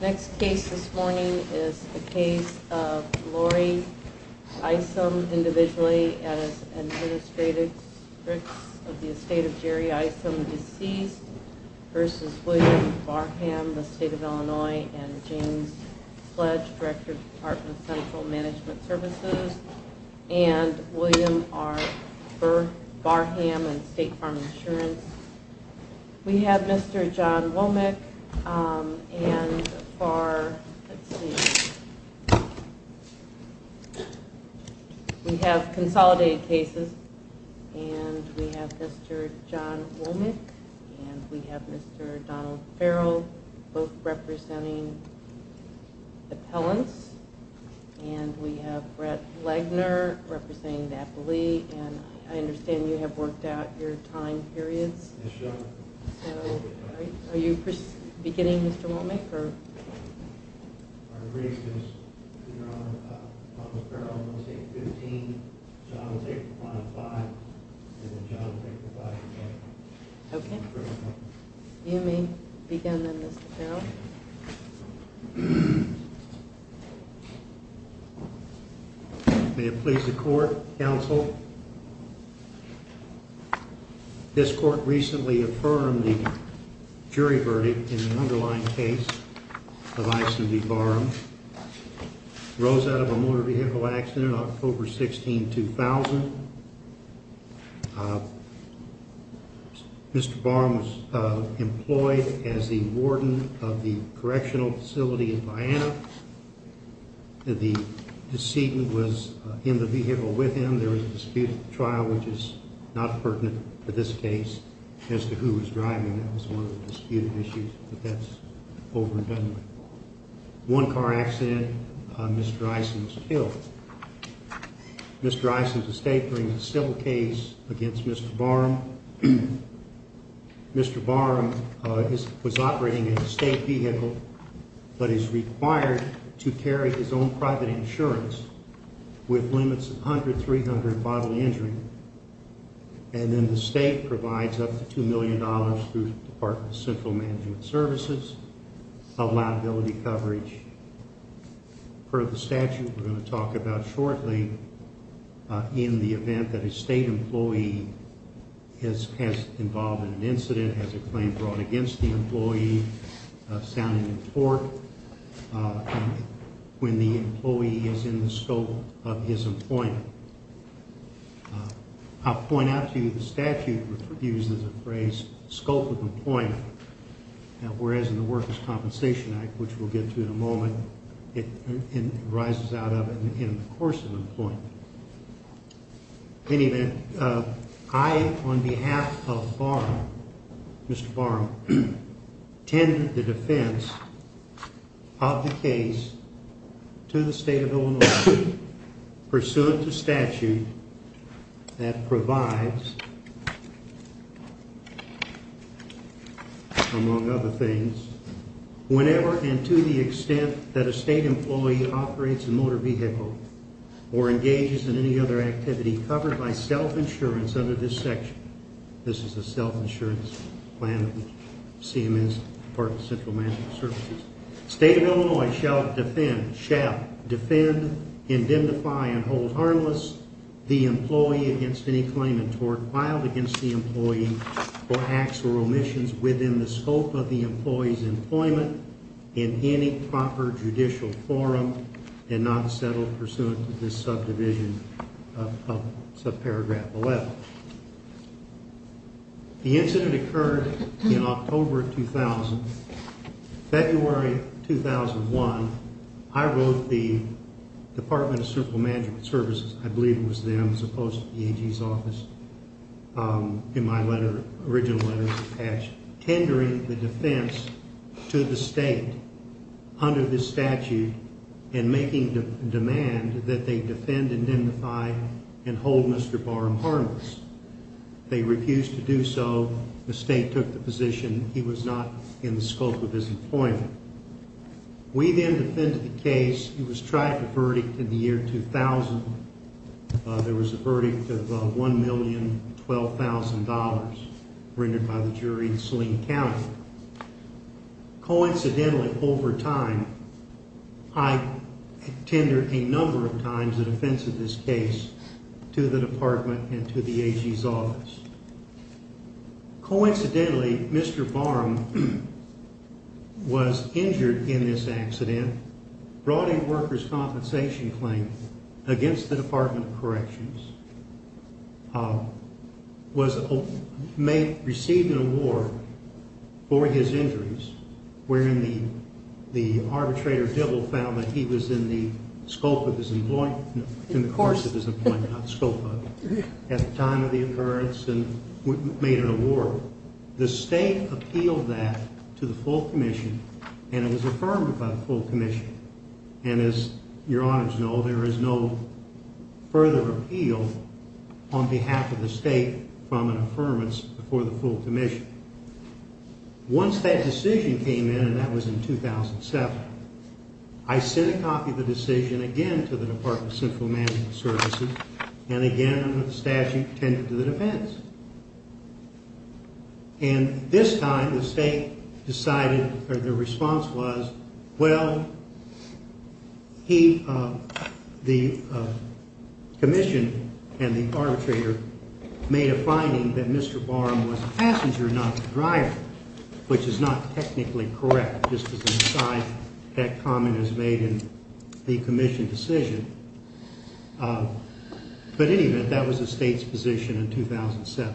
Next case this morning is the case of Lori Isom, individually, as an administrator of the estate of Jerry Isom, deceased, versus William Barham, the state of Illinois, and James Sledge, Director of the Department of Central Management Services, and William R. Burr Barham, in State Farm Insurance. We have Mr. John Womack, and for, let's see, we have consolidated cases, and we have Mr. John Womack, and we have Mr. Donald Farrell, both representing appellants, and we have Brett Lagner, representing Napoli, and I understand you have worked out your time periods. Yes, ma'am. So, are you beginning, Mr. Womack, or? Our brief is, Your Honor, Donald Farrell will take 15, John will take five, and then John will take the five again. Okay. You may begin then, Mr. Farrell. Thank you, Your Honor. May it please the Court, counsel, this Court recently affirmed the jury verdict in the underlying case of Isom v. Barham. Barham rose out of a motor vehicle accident on October 16, 2000. Mr. Barham was employed as the warden of the correctional facility in Vienna. The decedent was in the vehicle with him. There was a disputed trial, which is not pertinent for this case as to who was driving. That was one of the disputed issues, but that's over and done with. One car accident, Mr. Isom was killed. Mr. Isom's estate brings a civil case against Mr. Barham. Mr. Barham was operating a state vehicle but is required to carry his own private insurance with limits of 100, 300 bodily injury, and then the state provides up to $2 million through the Department of Central Management Services of liability coverage. Per the statute we're going to talk about shortly, in the event that a state employee is involved in an incident, has a claim brought against the employee, sounding in court, when the employee is in the scope of his employment. I'll point out to you the statute uses the phrase scope of employment, whereas in the Workers' Compensation Act, which we'll get to in a moment, it rises out of it in the course of employment. In any event, I, on behalf of Barham, Mr. Barham, tend the defense of the case to the state of Illinois pursuant to statute that provides, among other things, whenever and to the extent that a state employee operates a motor vehicle or engages in any other activity covered by self-insurance under this section. This is the self-insurance plan of the CMS, Department of Central Management Services. State of Illinois shall defend, indemnify, and hold harmless the employee against any claim in tort filed against the employee for acts or omissions within the scope of the employee's employment in any proper judicial forum and not settled pursuant to this subdivision of subparagraph 11. The incident occurred in October 2000. February 2001, I wrote the Department of Central Management Services, I believe it was them as opposed to the AG's office, in my letter, original letter, tendering the defense to the state under this statute and making the demand that they defend, indemnify, and hold Mr. Barham harmless. They refused to do so. The state took the position he was not in the scope of his employment. We then defended the case. It was tried to verdict in the year 2000. There was a verdict of $1,012,000 rendered by the jury in Sling County. Coincidentally, over time, I tendered a number of times the defense of this case to the department and to the AG's office. Coincidentally, Mr. Barham was injured in this accident, brought a worker's compensation claim against the Department of Corrections, was made, received an award for his injuries wherein the arbitrator Dibble found that he was in the scope of his employment, in the course of his employment, not the scope of it, at the time of the occurrence and made an award. The state appealed that to the full commission and it was affirmed by the full commission. And as your honors know, there is no further appeal on behalf of the state from an affirmance before the full commission. Once that decision came in, and that was in 2007, I sent a copy of the decision again to the Department of Central Management Services and again under the statute tended to the defense. And this time the state decided, or the response was, well, the commission and the arbitrator made a finding that Mr. Barham was a passenger, not a driver, which is not technically correct, just as an aside, that comment is made in the commission decision. But in any event, that was the state's position in 2007.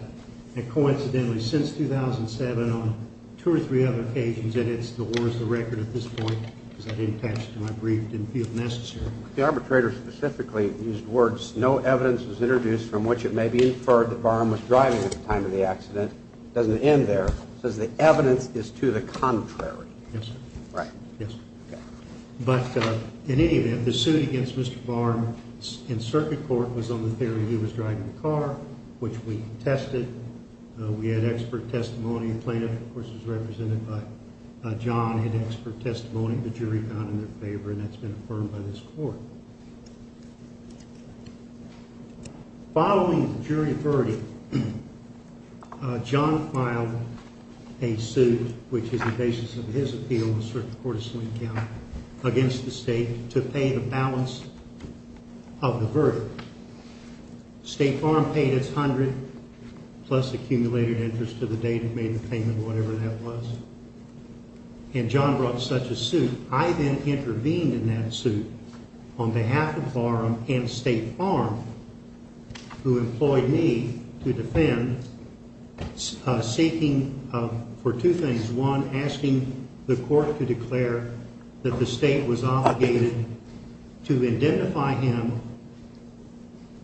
And coincidentally, since 2007, on two or three other occasions, and it still holds the record at this point, because I didn't attach it to my brief, it didn't feel necessary. The arbitrator specifically used words, no evidence was introduced from which it may be inferred that Barham was driving at the time of the accident. It doesn't end there. It says the evidence is to the contrary. Yes, sir. Right. Yes. But in any event, the suit against Mr. Barham in circuit court was on the theory he was driving the car, which we tested. We had expert testimony. The plaintiff, of course, was represented by John, had expert testimony. The jury found it in their favor, and that's been affirmed by this court. Following the jury verdict, John filed a suit, which is the basis of his appeal in the circuit court of Sling County, against the state to pay the balance of the verdict. State Barham paid its hundred-plus accumulated interest to the date it made the payment, whatever that was. And John brought such a suit. I then intervened in that suit on behalf of Barham and State Barham, who employed me to defend, seeking for two things. One, asking the court to declare that the state was obligated to identify him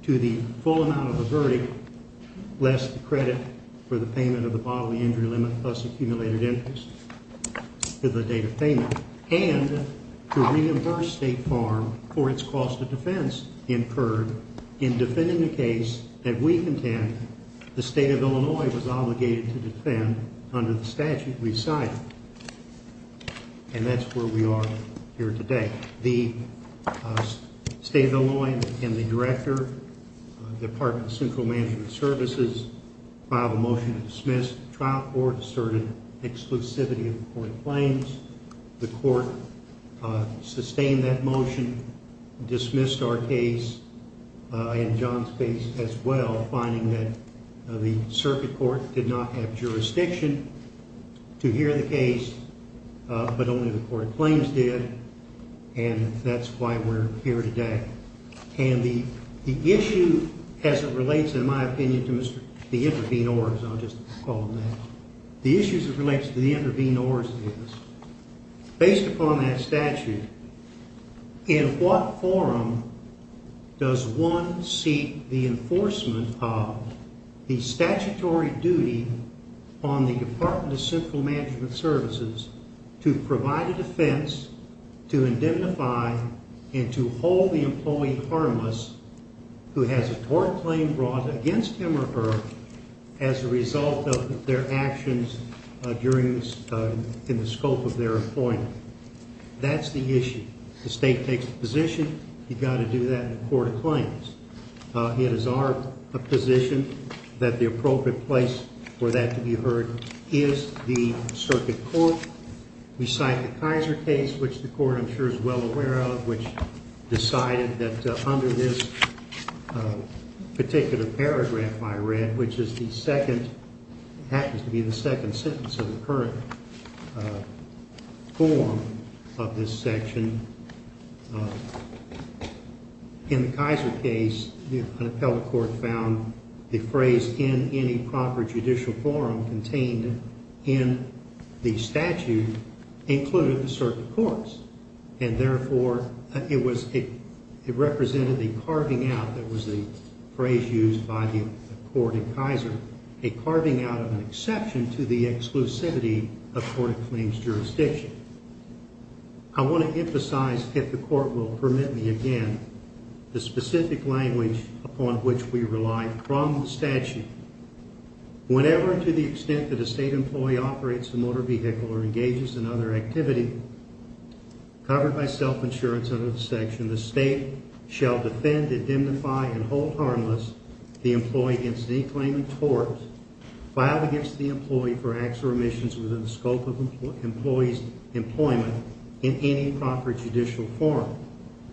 to the full amount of the verdict, less the credit for the payment of the bodily injury limit plus accumulated interest to the date of payment, and to reimburse State Barham for its cost of defense incurred in defending the case that we contend the State of Illinois was obligated to defend under the statute we cited. And that's where we are here today. The State of Illinois and the director, Department of Central Management Services, filed a motion to dismiss the trial court, asserted exclusivity of the court claims. The court sustained that motion, dismissed our case, and John's case as well, finding that the circuit court did not have jurisdiction to hear the case, but only the court claims did. And that's why we're here today. And the issue as it relates, in my opinion, to Mr. – the intervene orders, I'll just call them that. The issue as it relates to the intervene orders is, based upon that statute, in what forum does one seek the enforcement of the statutory duty on the Department of Central Management Services to provide a defense, to indemnify and to hold the employee harmless who has a tort claim brought against him or her as a result of their actions during this – in the scope of their employment? That's the issue. The State takes a position. You've got to do that in the court of claims. It is our position that the appropriate place for that to be heard is the circuit court. We cite the Kaiser case, which the court, I'm sure, is well aware of, which decided that under this particular paragraph I read, which is the second – happens to be the second sentence of the current form of this section. In the Kaiser case, an appellate court found a phrase in any proper judicial forum contained in the statute included the circuit courts. And therefore, it was – it represented a carving out – that was the phrase used by the court in Kaiser – a carving out of an exception to the exclusivity of court of claims jurisdiction. I want to emphasize, if the court will permit me again, the specific language upon which we rely from the statute. Whenever and to the extent that a State employee operates a motor vehicle or engages in other activity covered by self-insurance under the section, the State shall defend, indemnify, and hold harmless the employee against any claim of tort filed against the employee for acts or omissions within the scope of employee's employment in any proper judicial forum.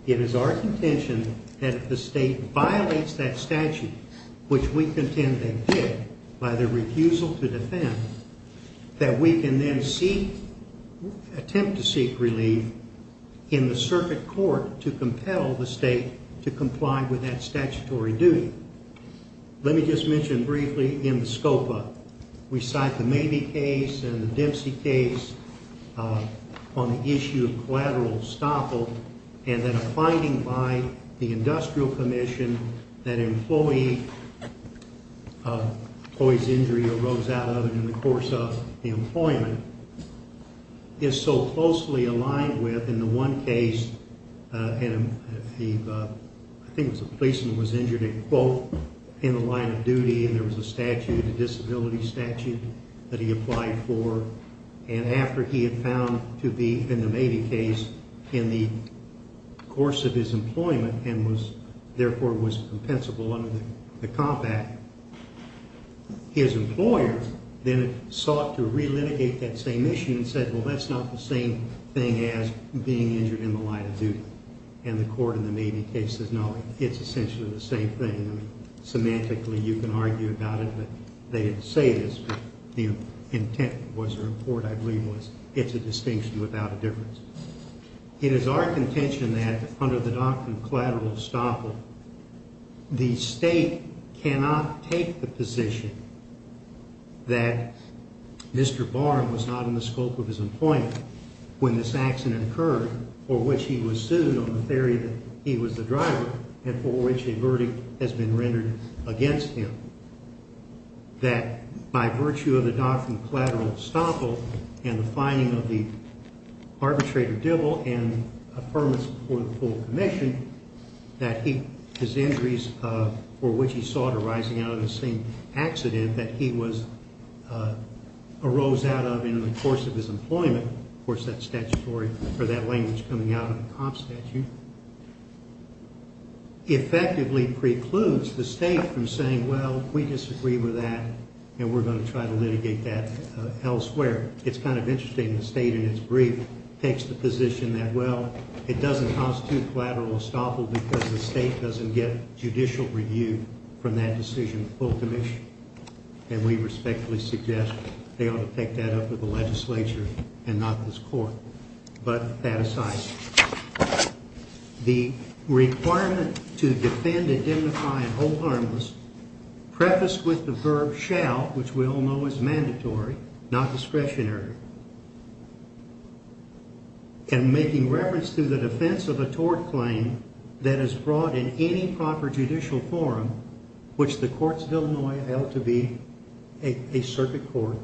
It is our contention that if the State violates that statute, which we contend they did by their refusal to defend, that we can then seek – attempt to seek relief in the circuit court to compel the State to comply with that statutory duty. Let me just mention briefly in the SCOPA. We cite the Mabee case and the Dempsey case on the issue of collateral estoppel and then a finding by the Industrial Commission that employee – employee's injury arose out of it in the course of the employment. It's so closely aligned with, in the one case, and the – I think it was a policeman was injured in – both in the line of duty and there was a statute, a disability statute, that he applied for. And after he had found to be, in the Mabee case, in the course of his employment and was – therefore was compensable under the compact, his employer then sought to relitigate that same issue and said, well, that's not the same thing as being injured in the line of duty. And the court in the Mabee case says, no, it's essentially the same thing. I mean, semantically you can argue about it, but they didn't say this, but the intent was – or the report, I believe, was it's a distinction without a difference. It is our contention that under the doctrine of collateral estoppel, the State cannot take the position that Mr. Barn was not in the scope of his employment when this accident occurred for which he was sued on the theory that he was the driver and for which a verdict has been rendered against him. That by virtue of the doctrine of collateral estoppel and the finding of the arbitrator, Dibble, and a permit for the full commission, that he – his injuries for which he sought arising out of the same accident that he was – arose out of in the course of his employment. Of course, that statutory – or that language coming out of the comp statute effectively precludes the State from saying, well, we disagree with that and we're going to try to litigate that elsewhere. It's kind of interesting the State in its brief takes the position that, well, it doesn't constitute collateral estoppel because the State doesn't get judicial review from that decision of full commission. And we respectfully suggest they ought to take that up with the legislature and not this court. But that aside, the requirement to defend, indemnify, and hold harmless prefaced with the verb shall, which we all know is mandatory, not discretionary. And making reference to the defense of a tort claim that is brought in any proper judicial forum, which the Courts of Illinois held to be a circuit court,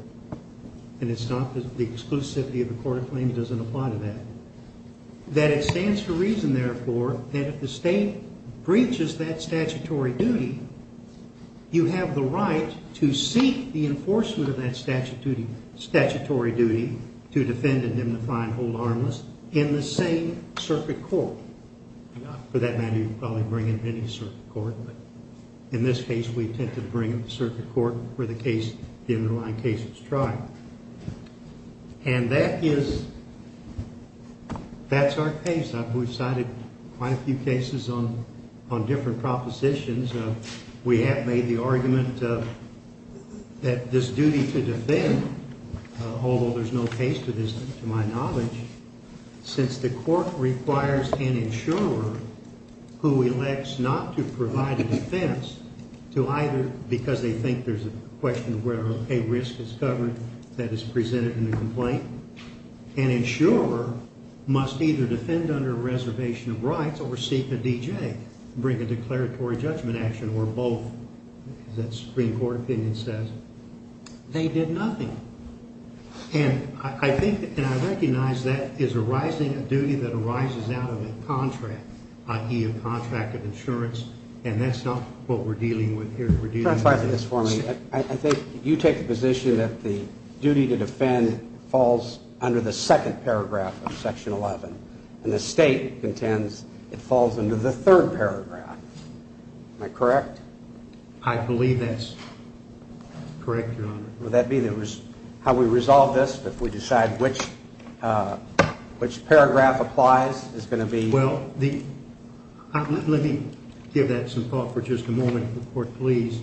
and it's not – the exclusivity of the court of claims doesn't apply to that. That it stands to reason, therefore, that if the State breaches that statutory duty, you have the right to seek the enforcement of that statutory duty to defend, indemnify, and hold harmless in the same circuit court. For that matter, you can probably bring in any circuit court, but in this case, we tend to bring in the circuit court where the underlying case is tried. And that is – that's our case. And an insurer who elects not to provide a defense to either – because they think there's a question of whether a risk is covered that is presented in the complaint. An insurer must either defend under a reservation of rights or seek a DJ, bring a declaratory judgment action, or both, as that Supreme Court opinion says. They did nothing. And I think – and I recognize that is arising a duty that arises out of a contract, i.e., a contract of insurance, and that's not what we're dealing with here. We're dealing with – Can I try this for me? I think you take the position that the duty to defend falls under the second paragraph of Section 11, and the State contends it falls under the third paragraph. Am I correct? I believe that's correct, Your Honor. Would that be the – how we resolve this, if we decide which paragraph applies, is going to be – Well, the – let me give that some thought for just a moment, if the Court please.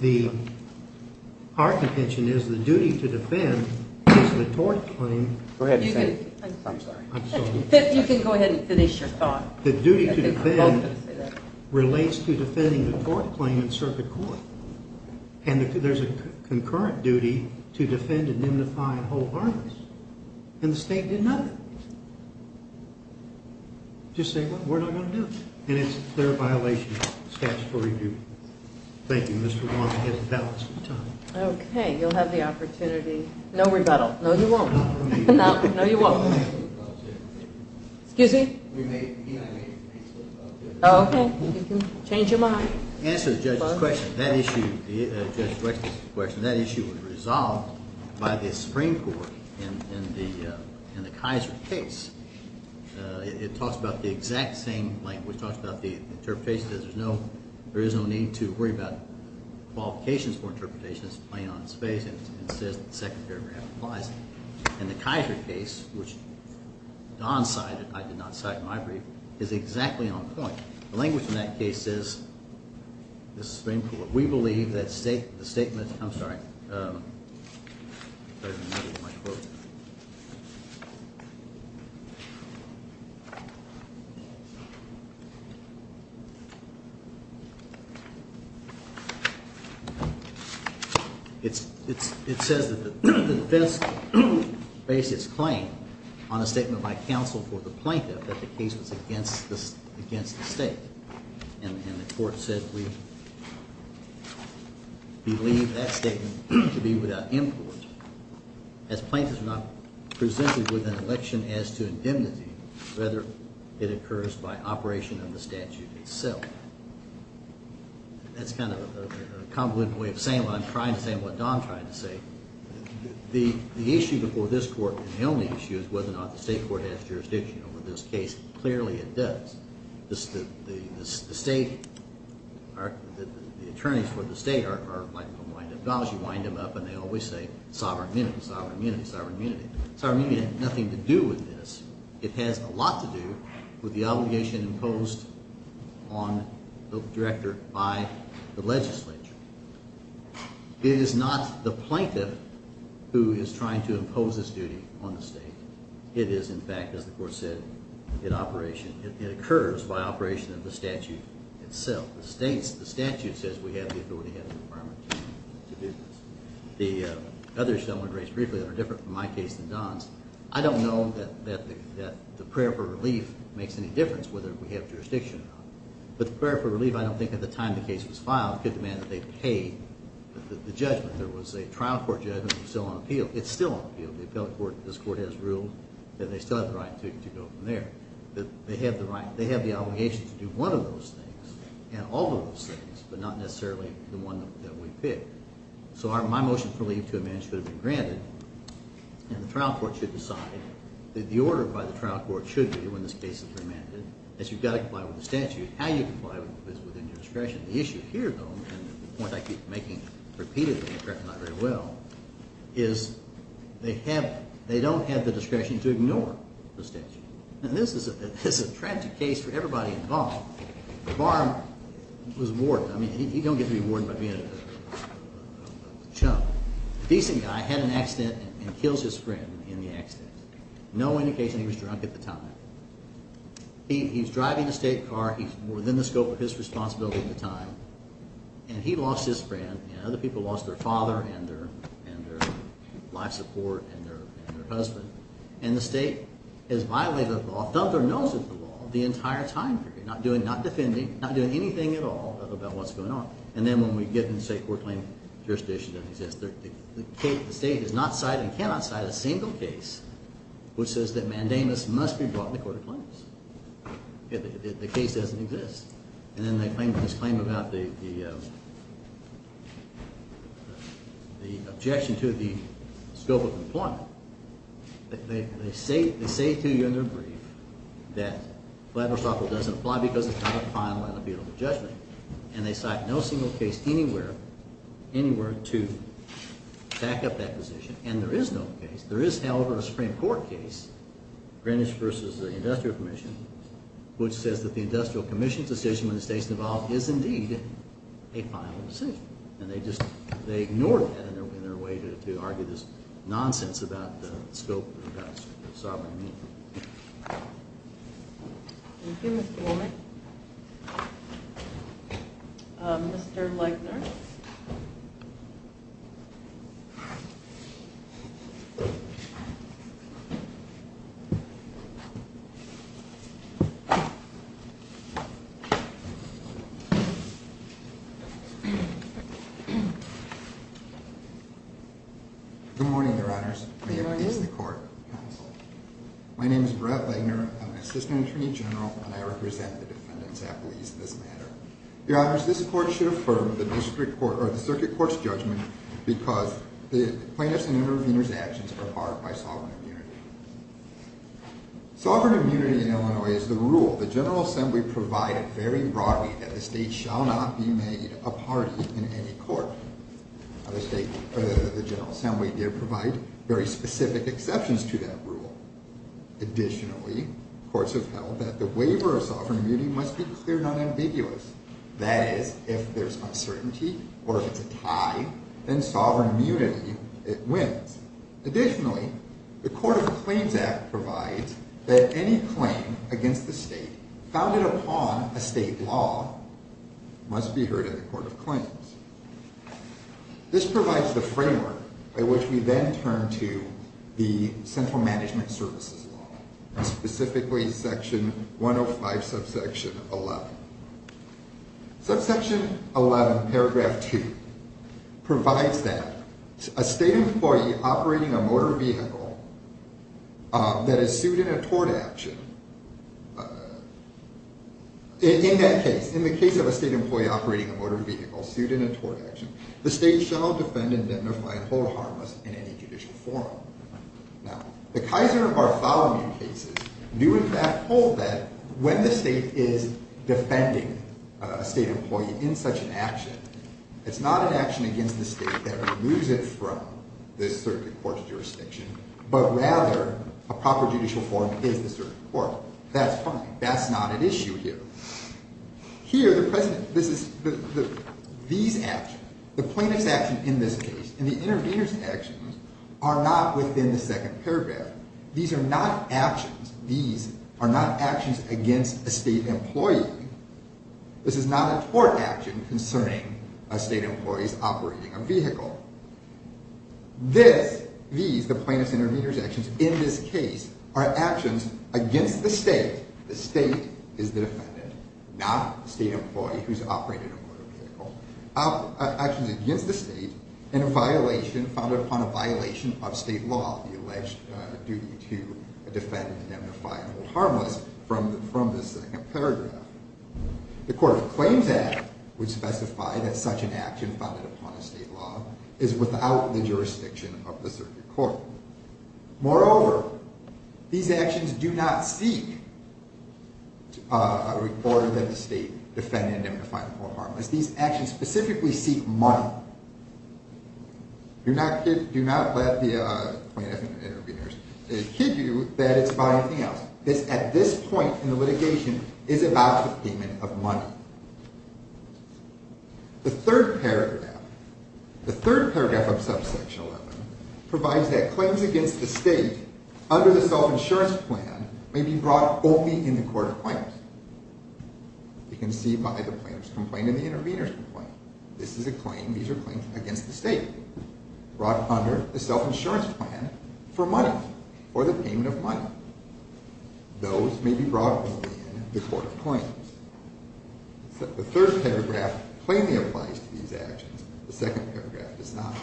The – our contention is the duty to defend is the tort claim. Go ahead and say it. I'm sorry. I'm sorry. You can go ahead and finish your thought. I think we're both going to say that. The duty to defend relates to defending the tort claim in circuit court. And there's a concurrent duty to defend and indemnify a whole harness. And the State did nothing. Just say, well, we're not going to do it. And it's a clear violation of the statutory duty. Thank you. Mr. Wong has a balance of time. Okay. You'll have the opportunity – no rebuttal. No, you won't. No, you won't. Excuse me? Okay. You can change your mind. To answer the judge's question, that issue was resolved by the Supreme Court in the Kaiser case. It talks about the exact same language. It talks about the interpretation. It says there's no – there is no need to worry about qualifications for interpretation. It's plain on its face. And it says the second paragraph applies. And the Kaiser case, which Don cited – I did not cite in my brief – is exactly on point. The language in that case says, the Supreme Court, we believe that the statement – I'm sorry. There's another in my quote. It says that the defense bases its claim on a statement by counsel for the plaintiff that the case was against the state. And the court said we believe that statement to be without import. As plaintiffs are not presented with an election as to indemnity, rather it occurs by operation of the statute itself. That's kind of a convoluted way of saying what I'm trying to say and what Don tried to say. The issue before this court, and the only issue, is whether or not the state court has jurisdiction over this case. Clearly it does. The state – the attorneys for the state are like wind-up dolls. You wind them up and they always say sovereign immunity, sovereign immunity, sovereign immunity. Sovereign immunity had nothing to do with this. It has a lot to do with the obligation imposed on the director by the legislature. It is not the plaintiff who is trying to impose this duty on the state. It is, in fact, as the court said, in operation. It occurs by operation of the statute itself. The statute says we have the authority and the requirement to do this. The other issue I want to raise briefly that are different from my case than Don's, I don't know that the prayer for relief makes any difference whether we have jurisdiction or not. But the prayer for relief, I don't think at the time the case was filed, could demand that they pay the judgment. There was a trial court judgment that was still on appeal. It's still on appeal. This court has ruled that they still have the right to go from there. They have the obligation to do one of those things and all of those things, but not necessarily the one that we pick. So my motion for leave to amend should have been granted. And the trial court should decide that the order by the trial court should be, when this case is remanded, that you've got to comply with the statute. How you comply is within your discretion. The issue here, though, and the point I keep making repeatedly and correct me not very well, is they don't have the discretion to ignore the statute. And this is a tragic case for everybody involved. Barb was a warden. I mean, you don't get to be a warden by being a chump. Decent guy. Had an accident and kills his friend in the accident. No indication he was drunk at the time. He's driving a state car. He's within the scope of his responsibility at the time. And he lost his friend and other people lost their father and their life support and their husband. And the state has violated the law, thumbs their nose at the law, the entire time period. Not doing, not defending, not doing anything at all about what's going on. And then when we get into, say, court claim jurisdiction doesn't exist. The state has not cited and cannot cite a single case which says that Mandamus must be brought in the court of claims. The case doesn't exist. And then they claim, this claim about the objection to the scope of employment. They say to you in their brief that Vladmir Sokol doesn't apply because it's not a final and a beatable judgment. And they cite no single case anywhere, anywhere to back up that position. And there is no case. There is, however, a Supreme Court case, Greenwich versus the Industrial Commission, which says that the Industrial Commission's decision when the state's involved is indeed a final decision. And they just, they ignored that in their way to argue this nonsense about the scope of the sovereign. Thank you, Mr. Woolman. Mr. Legner. Good morning, Your Honors. May it please the court. My name is Brett Legner. I'm an assistant attorney general, and I represent the defendants' appellees in this matter. Your Honors, this court should affirm the circuit court's judgment because the plaintiff's and intervener's actions are barred by sovereign immunity. Sovereign immunity in Illinois is the rule the General Assembly provided very broadly that the state shall not be made a party in any court. The General Assembly did provide very specific exceptions to that rule. Additionally, courts have held that the waiver of sovereign immunity must be cleared unambiguous. That is, if there's uncertainty or if it's a tie, then sovereign immunity wins. Additionally, the Court of Claims Act provides that any claim against the state founded upon a state law must be heard in the Court of Claims. This provides the framework by which we then turn to the central management services law, specifically Section 105, Subsection 11. Subsection 11, Paragraph 2, provides that a state employee operating a motor vehicle that is sued in a tort action, in that case, in the case of a state employee operating a motor vehicle sued in a tort action, the state shall defend, indemnify, and hold harmless in any judicial forum. Now, the Kaiser and Bartholomew cases do in fact hold that when the state is defending a state employee in such an action, it's not an action against the state that removes it from the circuit court's jurisdiction, but rather a proper judicial forum is the circuit court. That's fine. That's not an issue here. Here, the plaintiff's action in this case and the intervener's actions are not within the second paragraph. These are not actions against a state employee. This is not a tort action concerning a state employee operating a vehicle. These, the plaintiff's and intervener's actions in this case, are actions against the state. The state is the defendant, not the state employee who's operating a motor vehicle. Actions against the state and a violation founded upon a violation of state law, the alleged duty to defend, indemnify, and hold harmless from this second paragraph. The Court of Claims Act would specify that such an action founded upon a state law is without the jurisdiction of the circuit court. Moreover, these actions do not seek a record that the state defendant, indemnify, and hold harmless. These actions specifically seek money. Do not let the plaintiff and intervener kid you that it's about anything else. At this point in the litigation, it's about the payment of money. The third paragraph of subsection 11 provides that claims against the state under the self-insurance plan may be brought only in the Court of Claims. You can see by the plaintiff's complaint and the intervener's complaint. This is a claim, these are claims against the state, brought under the self-insurance plan for money, for the payment of money. Those may be brought only in the Court of Claims. The third paragraph plainly applies to these actions, the second paragraph does not.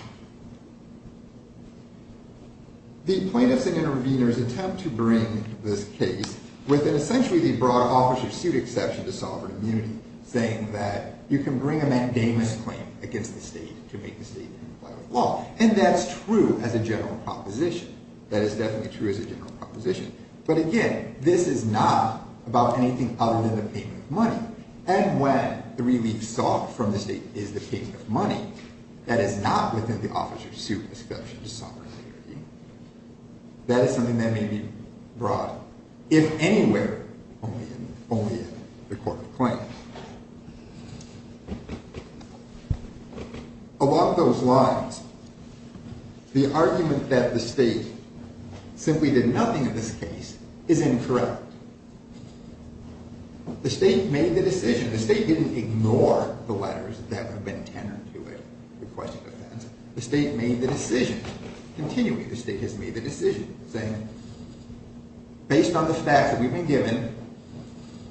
The plaintiffs and interveners attempt to bring this case within essentially the broad officer's suit exception to sovereign immunity, saying that you can bring a mandamus claim against the state to make the state comply with law. And that's true as a general proposition. That is definitely true as a general proposition. But again, this is not about anything other than the payment of money. And when the relief sought from the state is the payment of money, that is not within the officer's suit exception to sovereign immunity. That is something that may be brought, if anywhere, only in the Court of Claims. Along those lines, the argument that the state simply did nothing in this case is incorrect. The state made the decision. The state didn't ignore the letters that have been tenored to it, the question of that. The state made the decision. Continuing, the state has made the decision, saying, based on the facts that we've been given,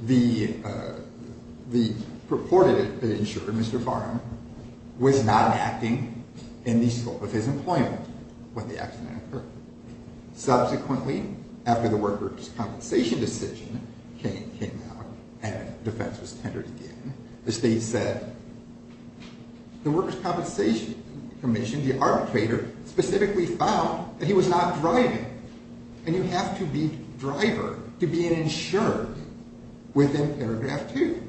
the purported insurer, Mr. Farm, was not acting in the scope of his employment when the accident occurred. Subsequently, after the workers' compensation decision came out and defense was tenored again, the state said, the workers' compensation commission, the arbitrator, specifically found that he was not driving, and you have to be a driver to be an insurer within paragraph two.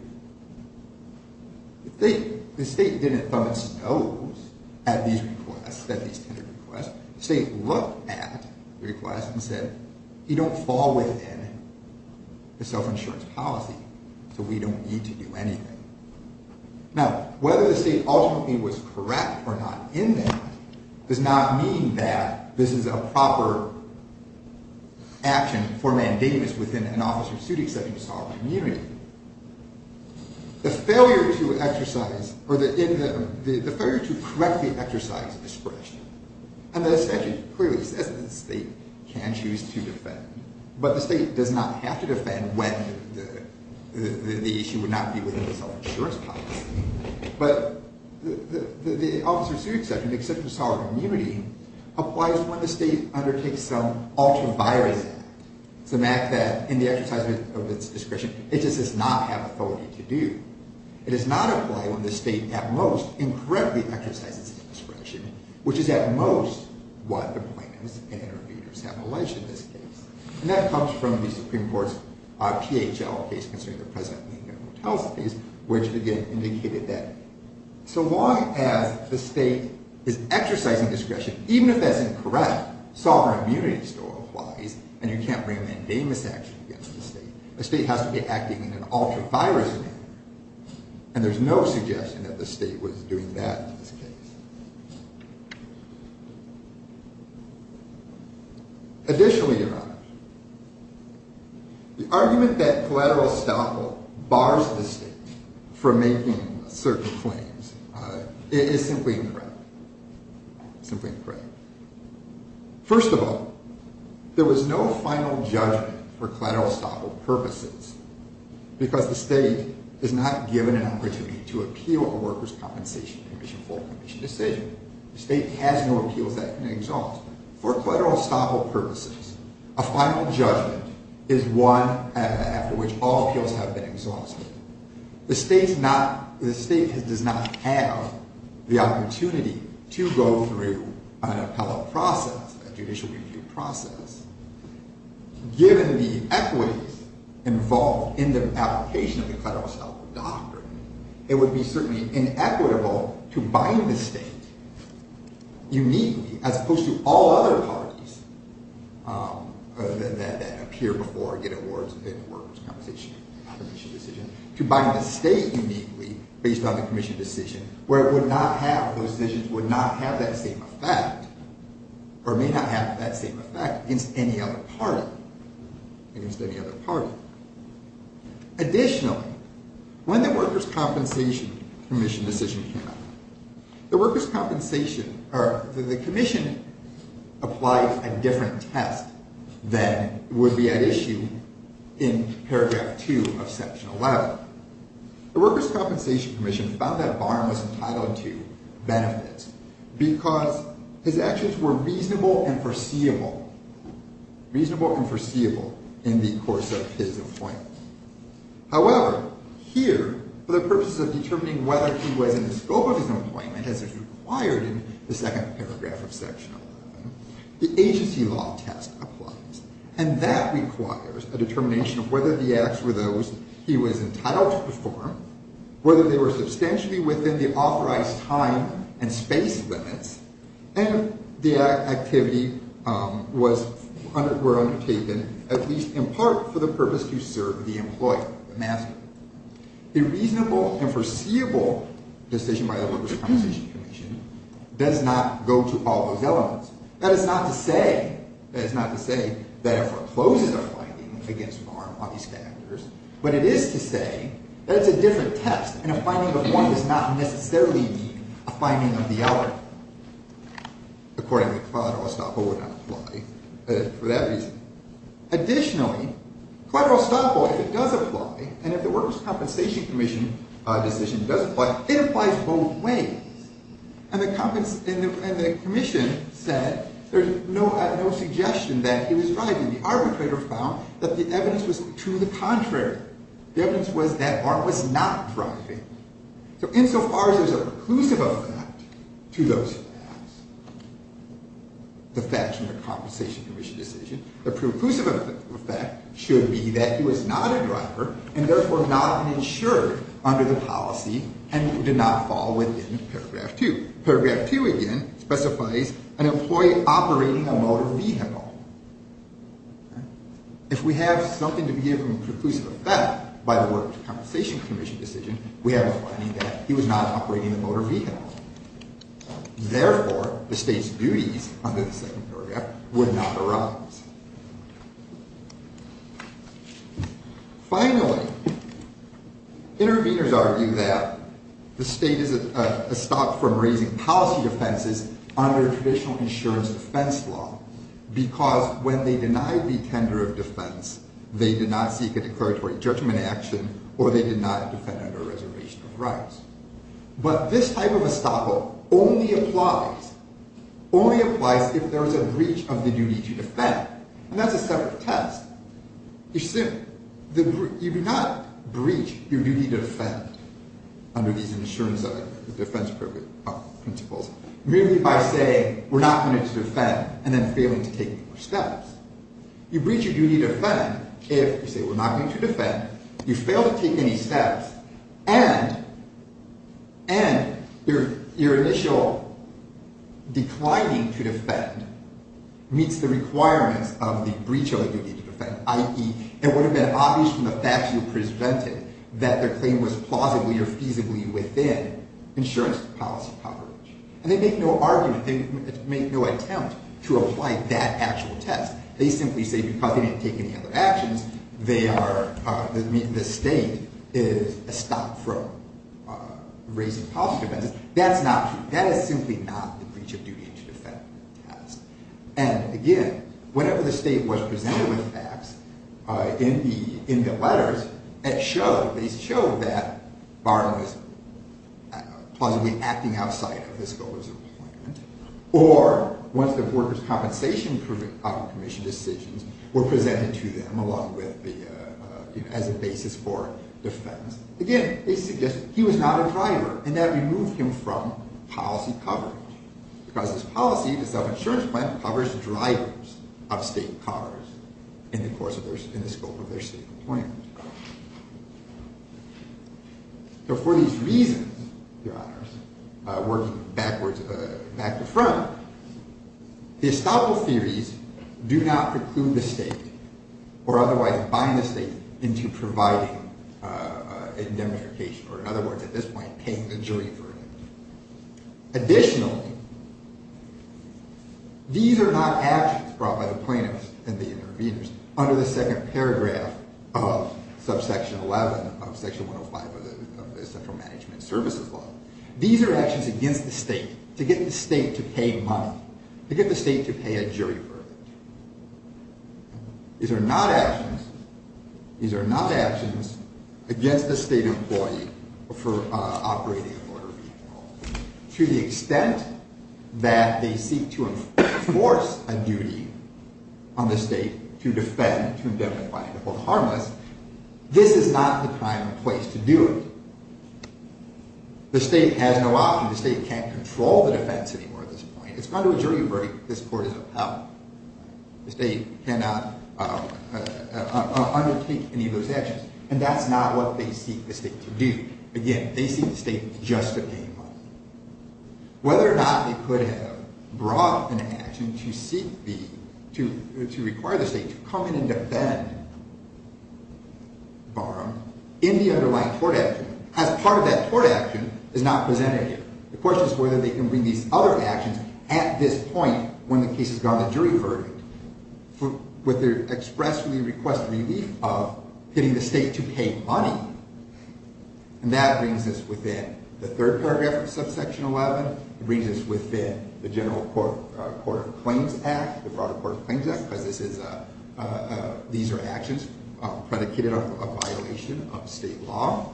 The state didn't thumb its nose at these requests, at these tenor requests. The state looked at the request and said, you don't fall within the self-insurance policy, so we don't need to do anything. Now, whether the state ultimately was correct or not in that does not mean that this is a proper action for mandamus within an officer's suit, except in a sovereign community. The failure to correct the exercise of discretion, and the statute clearly says that the state can choose to defend, but the state does not have to defend when the issue would not be within the self-insurance policy. But the officer's suit exception, except in a sovereign community, applies when the state undertakes some ultra-virus act, some act that, in the exercise of its discretion, it just does not have authority to do. It does not apply when the state, at most, incorrectly exercises its discretion, which is, at most, what the plaintiffs and interviewers have alleged in this case. And that comes from the Supreme Court's PHL case concerning the President Lincoln Hotel case, which, again, indicated that so long as the state is exercising discretion, even if that's incorrect, sovereign immunity still applies, and you can't bring a mandamus action against the state. The state has to be acting in an ultra-virus manner, and there's no suggestion that the state was doing that in this case. Additionally, Your Honor, the argument that collateral estoppel bars the state from making certain claims is simply incorrect. Simply incorrect. First of all, there was no final judgment for collateral estoppel purposes, because the state is not given an opportunity to appeal a workers' compensation commission full commission decision. The state has no appeals that can be exhausted. For collateral estoppel purposes, a final judgment is one after which all appeals have been exhausted. The state does not have the opportunity to go through an appellate process, a judicial review process, given the equities involved in the application of the collateral estoppel doctrine. It would be certainly inequitable to bind the state uniquely, as opposed to all other parties that appear before getting awards and getting a workers' compensation commission decision, to bind the state uniquely based on the commission decision, where those decisions would not have that same effect, or may not have that same effect, against any other party. Additionally, when the workers' compensation commission decision came out, the commission applied a different test than would be at issue in paragraph 2 of section 11. The workers' compensation commission found that Barham was entitled to benefits, because his actions were reasonable and foreseeable in the course of his employment. However, here, for the purposes of determining whether he was in the scope of his employment, as is required in the second paragraph of section 11, the agency law test applies, and that requires a determination of whether the acts were those he was entitled to perform, whether they were substantially within the authorized time and space limits, and if the activity were undertaken at least in part for the purpose to serve the employer, the master. A reasonable and foreseeable decision by the workers' compensation commission does not go to all those elements. That is not to say that it forecloses a finding against Barham on these factors, but it is to say that it's a different test, and a finding of one does not necessarily mean a finding of the other. Accordingly, collateral estoppel would not apply for that reason. Additionally, collateral estoppel, if it does apply, and if the workers' compensation commission decision does apply, it applies both ways. And the commission said there's no suggestion that he was driving. The arbitrator found that the evidence was to the contrary. The evidence was that Barham was not driving. So insofar as there's a preclusive effect to those facts, the facts in the compensation commission decision, the preclusive effect should be that he was not a driver, and therefore not an insured under the policy, and did not fall within paragraph two. Paragraph two, again, specifies an employee operating a motor vehicle. If we have something to be given preclusive effect by the workers' compensation commission decision, we have a finding that he was not operating a motor vehicle. Therefore, the state's duties under the second paragraph would not arise. Finally, interveners argue that the state is estopped from raising policy offenses under traditional insurance defense law, because when they denied the tender of defense, they did not seek a declaratory judgment action, or they did not defend under a reservation of rights. But this type of estoppel only applies if there is a breach of the duty to defend. And that's a separate test. You do not breach your duty to defend under these insurance defense principles, merely by saying, we're not going to defend, and then failing to take steps. You breach your duty to defend if you say, we're not going to defend, you fail to take any steps, and your initial declining to defend meets the requirements of the breach of the duty to defend, i.e., it would have been obvious from the facts you presented that their claim was plausibly or feasibly within insurance policy coverage. And they make no argument, they make no attempt to apply that actual test. They simply say, because they didn't take any other actions, the state is estopped from raising policy offenses. That is simply not the breach of duty to defend test. And again, whenever the state was presented with facts in the letters, it showed, they showed that Barnum was plausibly acting outside of his goals of employment. Or, once the Workers' Compensation Commission decisions were presented to them along with the, you know, as a basis for defense, again, they suggested he was not a driver, and that removed him from policy coverage. Because this policy, this self-insurance plan, covers drivers of state cars in the course of their, in the scope of their state employment. So for these reasons, Your Honors, working backwards, back to front, the estoppel theories do not preclude the state or otherwise bind the state into providing indemnification, or in other words, at this point, paying the jury for it. Additionally, these are not actions brought by the plaintiffs and the interveners under the second paragraph of subsection 11 of section 105 of the Central Management Services Law. These are actions against the state to get the state to pay money, to get the state to pay a jury verdict. These are not actions, these are not actions against the state employee for operating a motor vehicle to the extent that they seek to enforce a duty on the state to defend, to indemnify, and to hold harmless. This is not the prime place to do it. The state has no option, the state can't control the defense anymore at this point. It's gone to a jury verdict, this court is upheld. The state cannot undertake any of those actions, and that's not what they seek the state to do. Again, they seek the state just to pay money. Whether or not they could have brought an action to seek the, to require the state to come in and defend Barham in the underlying court action, as part of that court action is not presented here. The question is whether they can bring these other actions at this point when the case has gone to jury verdict. Whether to expressly request relief of getting the state to pay money, and that brings us within the third paragraph of subsection 11, it brings us within the General Court of Claims Act, the broader Court of Claims Act, because this is a, these are actions predicated on a violation of state law,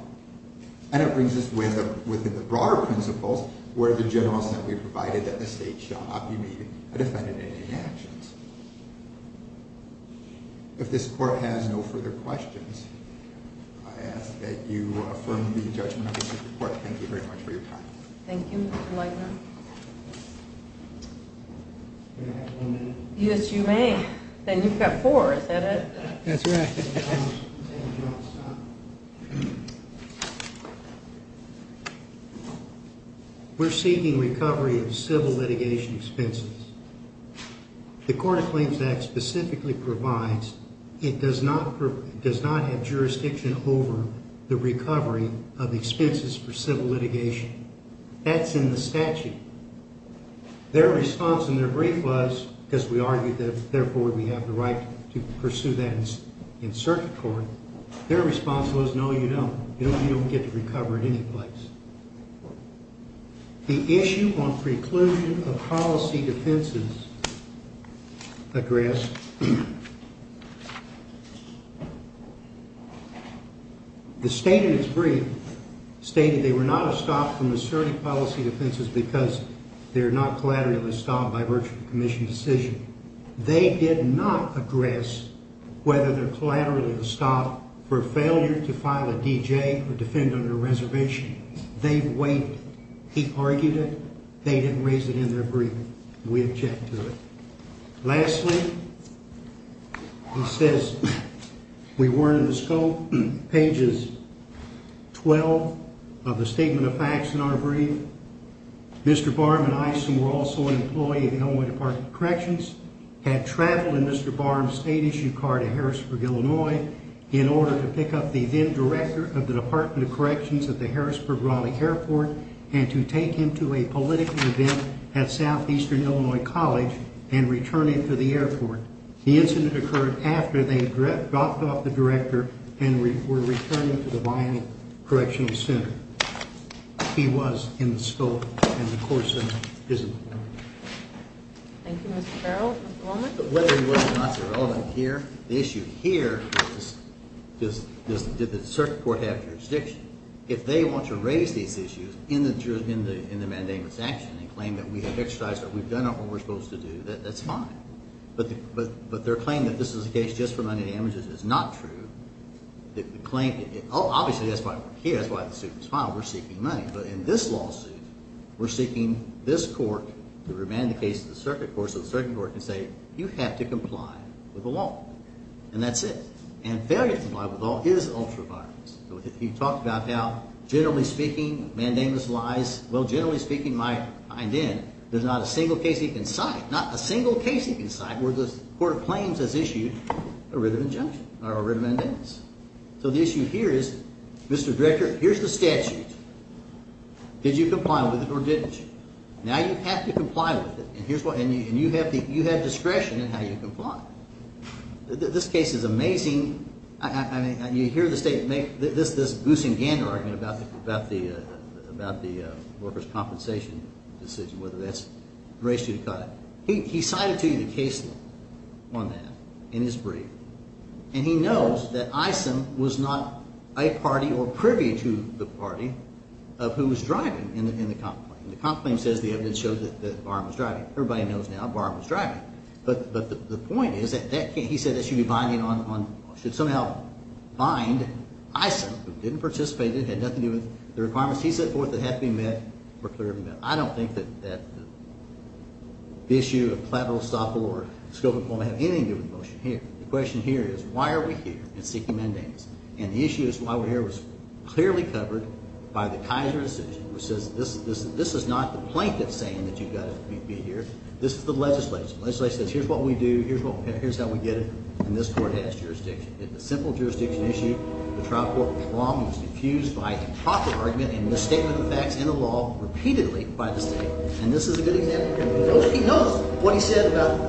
and it brings us within the broader principles where the generals that we provided that the state If this court has no further questions, I ask that you affirm the judgment of the Supreme Court. Thank you very much for your time. Thank you, Mr. Lightner. Yes, you may. Then you've got four, is that it? That's right. Thank you. We're seeking recovery of civil litigation expenses. The Court of Claims Act specifically provides it does not have jurisdiction over the recovery of expenses for civil litigation. That's in the statute. Their response in their brief was, because we argued that therefore we have the right to pursue that in circuit court, their response was, no, you don't. You don't get to recover in any place. The issue on preclusion of policy defenses, a grasp. The state in its brief stated they were not stopped from asserting policy defenses because they're not collaterally stopped by virtue of a commission decision. They did not address whether they're collaterally stopped for failure to file a D.J. or defend under a reservation. They've waited. He argued it. They didn't raise it in their brief. We object to it. Lastly, he says we weren't in the scope. Pages 12 of the Statement of Facts in our brief. Mr. Barham and I, who were also an employee of the Illinois Department of Corrections, had traveled in Mr. Barham's state-issued car to Harrisburg, Illinois, in order to pick up the then-director of the Department of Corrections at the Harrisburg-Raleigh Airport and to take him to a political event at Southeastern Illinois College and return him to the airport. The incident occurred after they had dropped off the director and were returning him to the Bionic Correctional Center. He was in the scope and the court sent him. Thank you, Mr. Barham. Whether he was or not is irrelevant here. The issue here is, did the circuit court have jurisdiction? If they want to raise these issues in the mandamus action and claim that we have exercised, that we've done what we're supposed to do, that's fine. But their claim that this is a case just for money damages is not true. Obviously, that's why the suit was filed. We're seeking money. But in this lawsuit, we're seeking this court to remand the case to the circuit court so the circuit court can say you have to comply with the law. And that's it. And failure to comply with the law is ultra-violence. He talked about how, generally speaking, mandamus lies. Well, generally speaking, there's not a single case he can cite, not a single case he can cite where the court of claims has issued a written injunction or a written mandamus. So the issue here is, Mr. Director, here's the statute. Did you comply with it or didn't you? Now you have to comply with it. And you have discretion in how you comply. This case is amazing. I mean, you hear the State make this goose and gander argument about the workers' compensation decision, whether that's race to cut. He cited to you the case law on that in his brief. And he knows that ISIM was not a party or privy to the party of who was driving in the complaint. The complaint says the evidence shows that Barham was driving. Everybody knows now Barham was driving. But the point is that he said that should somehow bind ISIM, who didn't participate in it, had nothing to do with the requirements he set forth that had to be met, were clearly met. I don't think that the issue of collateral estoppel or scope employment have anything to do with the motion here. The question here is, why are we here in seeking mandamus? And the issue is why we're here was clearly covered by the Kaiser decision, which says this is not the plaintiff saying that you've got to be here. This is the legislation. The legislation says here's what we do. Here's how we get it. And this court has jurisdiction. It's a simple jurisdiction issue. The trial court, Barham, was defused by improper argument and misstatement of facts in the law repeatedly by the State. And this is a good example. He knows what he said about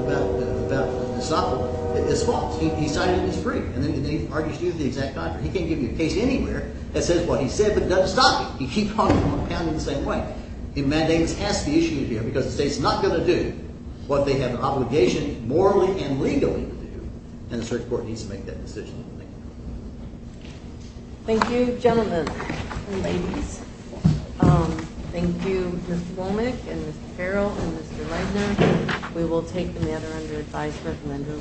estoppel is false. He cited it in his brief. And then he argues to you the exact contrary. He can't give you a case anywhere that says what he said but doesn't stop it. He keeps on compounding it the same way. But the mandamus has to be issued here because the State's not going to do what they have an obligation morally and legally to do, and the search court needs to make that decision. Thank you. Thank you, gentlemen and ladies. Thank you, Mr. Womack and Mr. Farrell and Mr. Reidner. We will take the matter under advisement under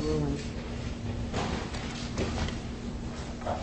ruling.